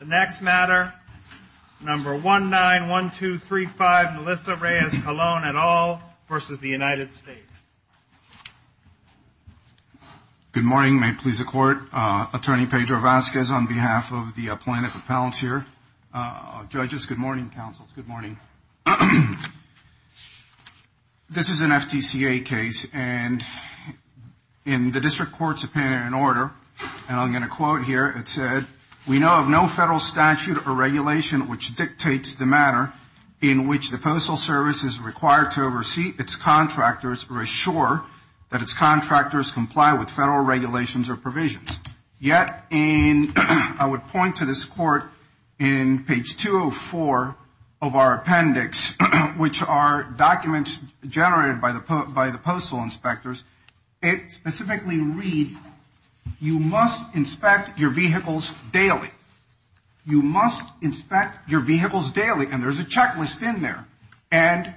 The next matter, number 191235, Melissa Reyes-Colon et al. v. United States. Good morning, may it please the Court. Attorney Pedro Vazquez on behalf of the plaintiff's appellants here. Judges, good morning. Counsels, good morning. This is an FTCA case, and in the district court's opinion and order, and I'm going to quote here, it said, we know of no federal statute or regulation which dictates the manner in which the Postal Service is required to oversee its contractors or assure that its contractors comply with federal regulations or provisions. Yet, I would point to this court in page 204 of our appendix, which are documents generated by the postal inspectors, it specifically reads, you must inspect your vehicles daily. You must inspect your vehicles daily, and there's a checklist in there, and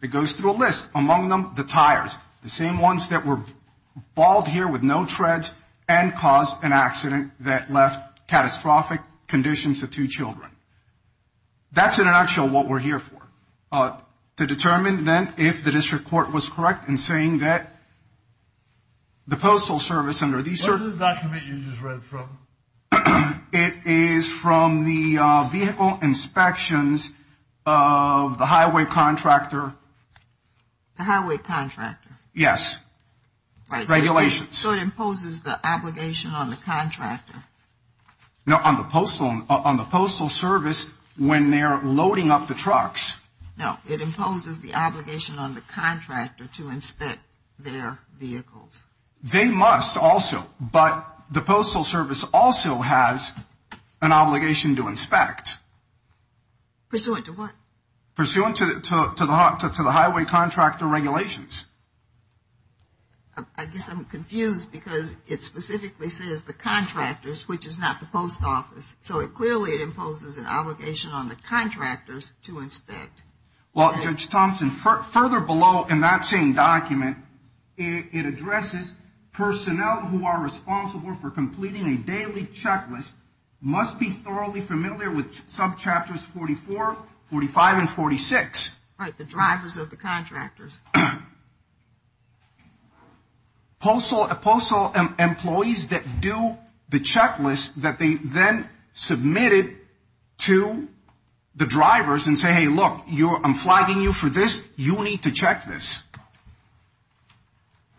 it goes through a list, among them the tires, the same ones that were balled here with no treads and caused an accident that left catastrophic conditions to two children. That's in a nutshell what we're here for. To determine, then, if the district court was correct in saying that the Postal Service under these circumstances… What is the document you just read from? It is from the vehicle inspections of the highway contractor. The highway contractor? Yes. Right. Regulations. So it imposes the obligation on the contractor? No, on the postal service when they're loading up the trucks. No, it imposes the obligation on the contractor to inspect their vehicles. They must also, but the Postal Service also has an obligation to inspect. Pursuant to what? Pursuant to the highway contractor regulations. I guess I'm confused because it specifically says the contractors, which is not the post office. So clearly it imposes an obligation on the contractors to inspect. Well, Judge Thompson, further below in that same document, it addresses personnel who are responsible for completing a daily checklist must be thoroughly familiar with subchapters 44, 45, and 46. Right, the drivers of the contractors. Postal employees that do the checklist that they then submit it to the drivers and say, hey, look, I'm flagging you for this, you need to check this.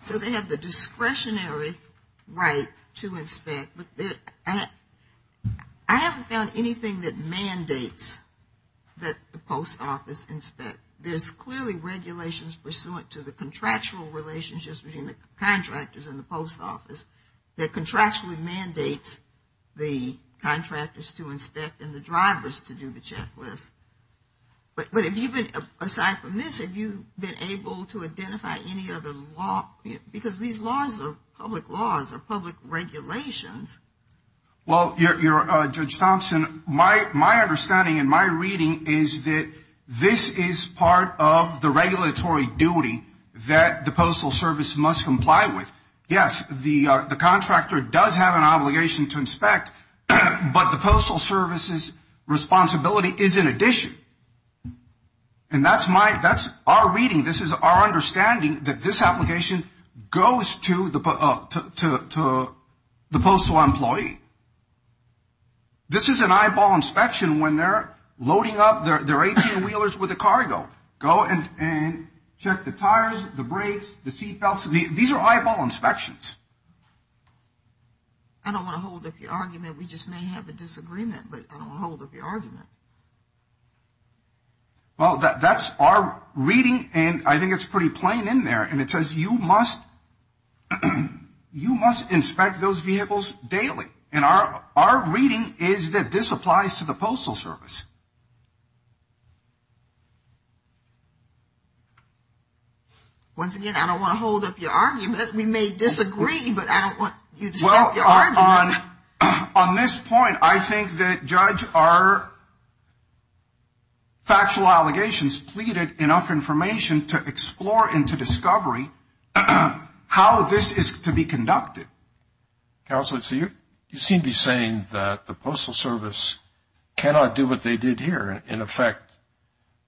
So they have the discretionary right to inspect. I haven't found anything that mandates that the post office inspect. But there's clearly regulations pursuant to the contractual relationships between the contractors and the post office that contractually mandates the contractors to inspect and the drivers to do the checklist. But aside from this, have you been able to identify any other law? Because these laws are public laws, they're public regulations. Well, Judge Thompson, my understanding and my reading is that this is part of the regulatory duty that the Postal Service must comply with. Yes, the contractor does have an obligation to inspect, but the Postal Service's responsibility is in addition. And that's our reading. This is our understanding that this application goes to the postal employee. This is an eyeball inspection when they're loading up their 18 wheelers with the cargo. Go and check the tires, the brakes, the seat belts. These are eyeball inspections. I don't want to hold up your argument. We just may have a disagreement, but I don't want to hold up your argument. Well, that's our reading, and I think it's pretty plain in there. And it says you must inspect those vehicles daily. And our reading is that this applies to the Postal Service. Once again, I don't want to hold up your argument. We may disagree, but I don't want you to stop your argument. Well, on this point, I think that, Judge, our factual allegations pleaded enough information to explore and to discovery how this is to be conducted. Counsel, you seem to be saying that the Postal Service cannot do what they did here, in effect,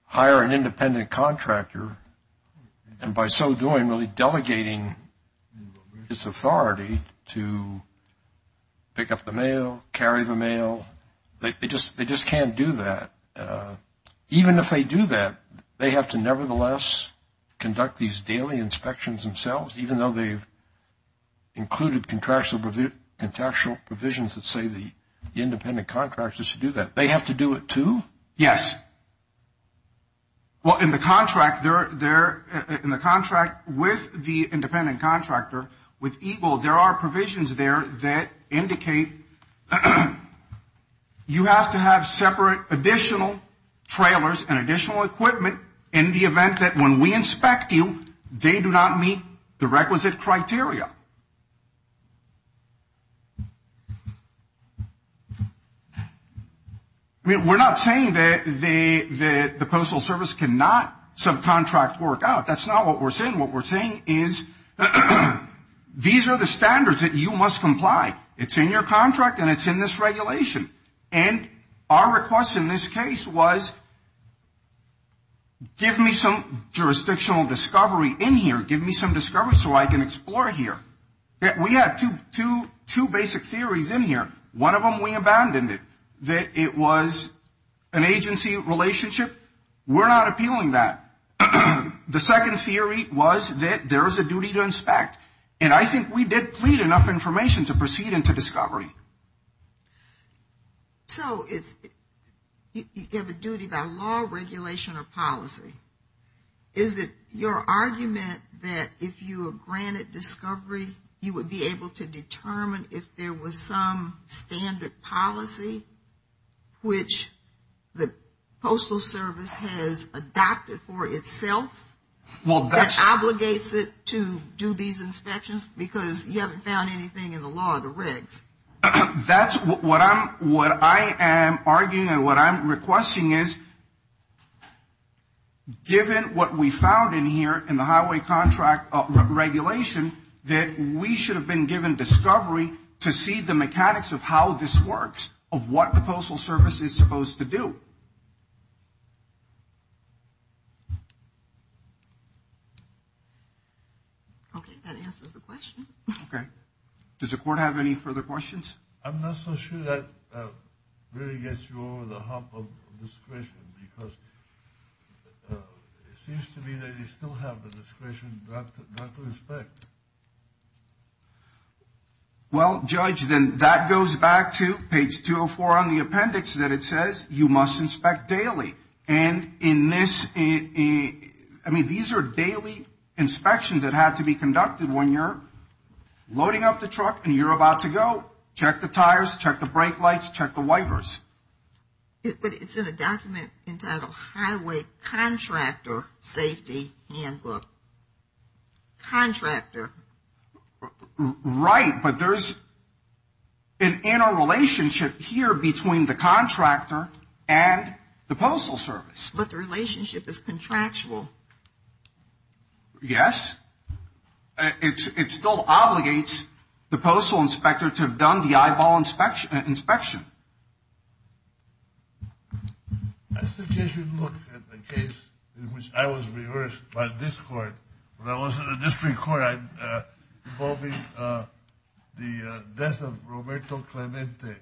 hire an independent contractor, and by so doing, really delegating its authority to pick up the mail, carry the mail. They just can't do that. Even if they do that, they have to, nevertheless, conduct these daily inspections themselves, even though they've included contractual provisions that say the independent contractor should do that. They have to do it, too? Yes. Well, in the contract with the independent contractor, with EGLE, there are provisions there that indicate you have to have separate additional trailers and additional equipment in the event that when we inspect you, they do not meet the requisite criteria. I mean, we're not saying that the Postal Service cannot subcontract work out. That's not what we're saying. What we're saying is these are the standards that you must comply. It's in your contract and it's in this regulation. And our request in this case was give me some jurisdictional discovery in here, give me some discovery so I can explore here. We have two basic theories in here. One of them, we abandoned it, that it was an agency relationship. We're not appealing that. The second theory was that there is a duty to inspect. And I think we did plead enough information to proceed into discovery. So you have a duty by law, regulation, or policy. Is it your argument that if you were granted discovery, you would be able to determine if there was some standard policy which the Postal Service has adopted for itself that obligates it to do these inspections because you haven't found anything in the law, the regs? That's what I am arguing and what I'm requesting is given what we found in here in the highway contract regulation that we should have been given discovery to see the mechanics of how this works, of what the Postal Service is supposed to do. Okay, that answers the question. Okay. Does the Court have any further questions? I'm not so sure that really gets you over the hump of discretion because it seems to me that you still have the discretion not to inspect. Well, Judge, then that goes back to page 204 on the appendix that it says you must inspect daily. And in this, I mean, these are daily inspections that have to be conducted when you're loading up the truck and you're about to go. Check the tires, check the brake lights, check the wipers. But it's in a document entitled Highway Contractor Safety Handbook. Contractor. Right, but there's an interrelationship here between the contractor and the Postal Service. But the relationship is contractual. Yes. It still obligates the postal inspector to have done the eyeball inspection. I suggest you look at the case in which I was reversed by this Court. When I was in the district court, involving the death of Roberto Clemente,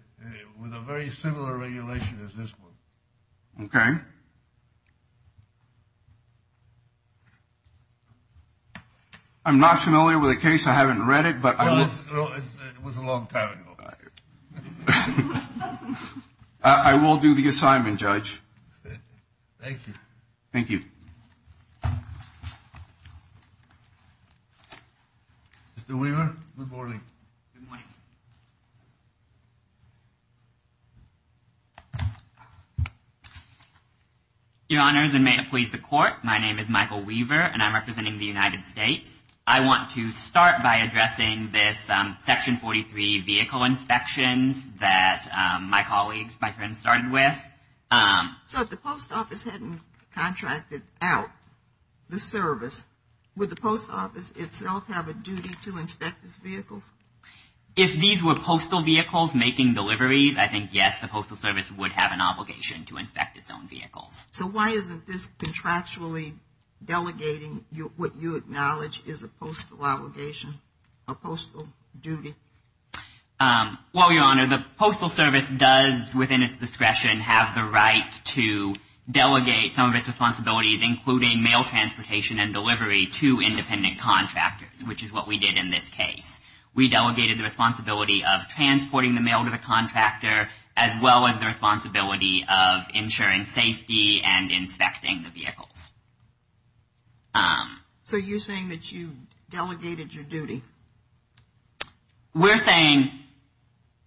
with a very similar regulation as this one. Okay. I'm not familiar with the case. I haven't read it. Well, it was a long time ago. I will do the assignment, Judge. Thank you. Thank you. Mr. Weaver, good morning. Good morning. Your Honors and may it please the Court, my name is Michael Weaver and I'm representing the United States. I want to start by addressing this Section 43 vehicle inspections that my colleagues, my friends, started with. So if the Post Office hadn't contracted out the service, would the Post Office itself have a duty to inspect these vehicles? If these were postal vehicles making deliveries, I think, yes, the Postal Service would have an obligation to inspect its own vehicles. So why isn't this contractually delegating what you acknowledge is a postal obligation, a postal duty? Well, Your Honor, the Postal Service does, within its discretion, have the right to delegate some of its responsibilities, including mail transportation and delivery to independent contractors, which is what we did in this case. We delegated the responsibility of transporting the mail to the contractor as well as the responsibility of ensuring safety and inspecting the vehicles. So you're saying that you delegated your duty? We're saying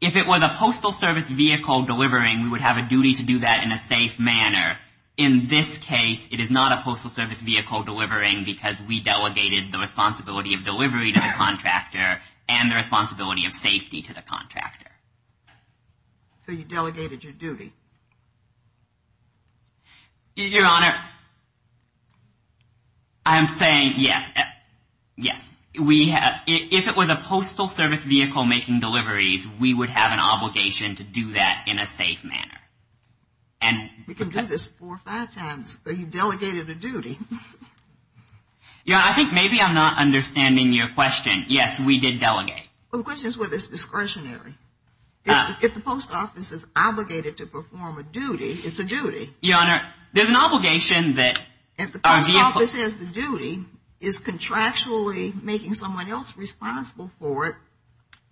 if it was a Postal Service vehicle delivering, we would have a duty to do that in a safe manner. In this case, it is not a Postal Service vehicle delivering because we delegated the responsibility of delivery to the contractor and the responsibility of safety to the contractor. So you delegated your duty? Your Honor, I'm saying yes, yes. If it was a Postal Service vehicle making deliveries, we would have an obligation to do that in a safe manner. We can do this four or five times, but you delegated a duty. Your Honor, I think maybe I'm not understanding your question. Yes, we did delegate. The question is whether it's discretionary. If the post office is obligated to perform a duty, it's a duty. Your Honor, there's an obligation that our vehicle… If the post office has the duty, is contractually making someone else responsible for it,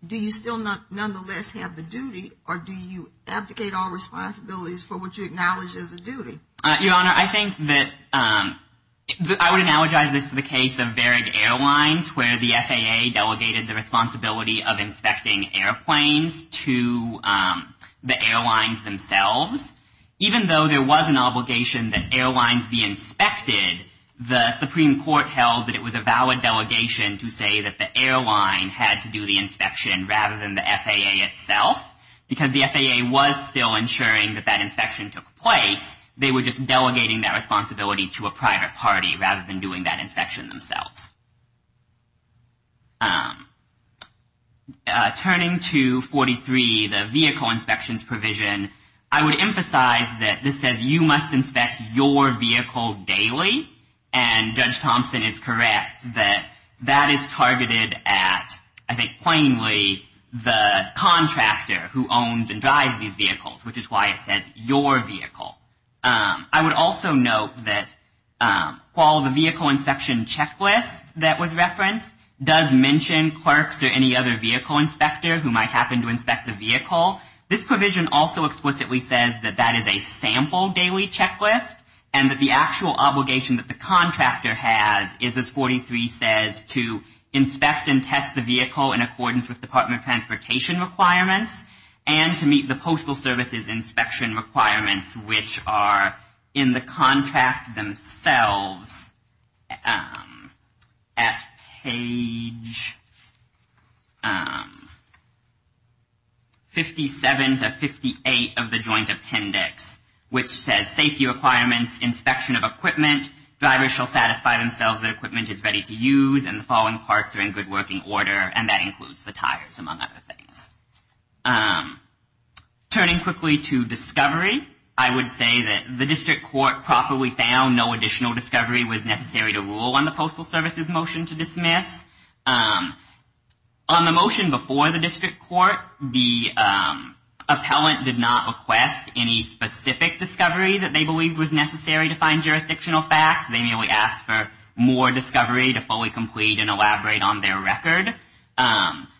do you still nonetheless have the duty, or do you abdicate all responsibilities for what you acknowledge as a duty? Your Honor, I think that I would analogize this to the case of Varig Airlines where the FAA delegated the responsibility of inspecting airplanes to the airlines themselves. Even though there was an obligation that airlines be inspected, the Supreme Court held that it was a valid delegation to say that the airline had to do the inspection rather than the FAA itself. Because the FAA was still ensuring that that inspection took place, they were just delegating that responsibility to a private party rather than doing that inspection themselves. Turning to 43, the vehicle inspections provision, I would emphasize that this says you must inspect your vehicle daily, and Judge Thompson is correct that that is targeted at, I think plainly, the contractor who owns and drives these vehicles, which is why it says your vehicle. I would also note that while the vehicle inspection checklist that was referenced does mention clerks or any other vehicle inspector who might happen to inspect the vehicle, this provision also explicitly says that that is a sample daily checklist and that the actual obligation that the contractor has is, as 43 says, to inspect and test the vehicle in accordance with Department of Transportation requirements and to meet the Postal Service's inspection requirements, which are in the contract themselves at page 57 to 58 of the Joint Appendix, which says safety requirements, inspection of equipment, drivers shall satisfy themselves that equipment is ready to use and the following parts are in good working order, and that includes the tires, among other things. Turning quickly to discovery, I would say that the District Court properly found no additional discovery was necessary to rule on the Postal Service's motion to dismiss. On the motion before the District Court, the appellant did not request any specific discovery that they believed was necessary to find jurisdictional facts. They merely asked for more discovery to fully complete and elaborate on their record.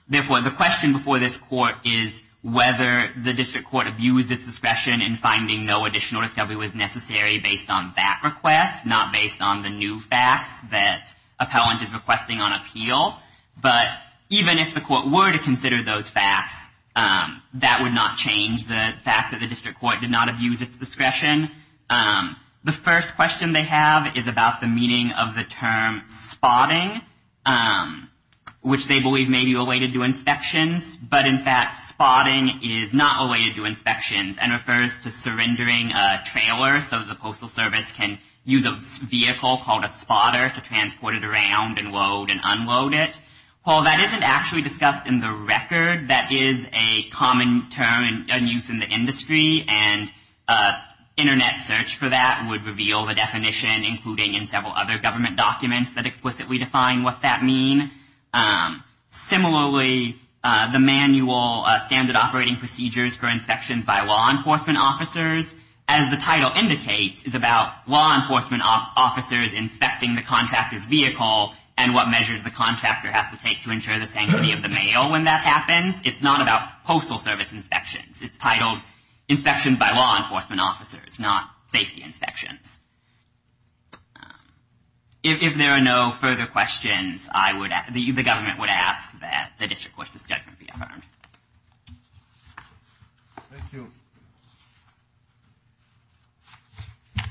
Therefore, the question before this Court is whether the District Court abused its discretion in finding no additional discovery was necessary based on that request, not based on the new facts that appellant is requesting on appeal. But even if the Court were to consider those facts, that would not change the fact that the District Court did not abuse its discretion. The first question they have is about the meaning of the term spotting, which they believe may be related to inspections, but in fact spotting is not related to inspections and refers to surrendering a trailer so the Postal Service can use a vehicle called a spotter to transport it around and load and unload it. While that isn't actually discussed in the record, that is a common term in use in the industry, and an Internet search for that would reveal the definition, including in several other government documents that explicitly define what that means. Similarly, the manual standard operating procedures for inspections by law enforcement officers, as the title indicates, is about law enforcement officers inspecting the contractor's vehicle and what measures the contractor has to take to ensure the sanctity of the mail when that happens. It's not about Postal Service inspections. It's titled inspections by law enforcement officers, not safety inspections. If there are no further questions, the government would ask that the district court's judgment be affirmed. Thank you.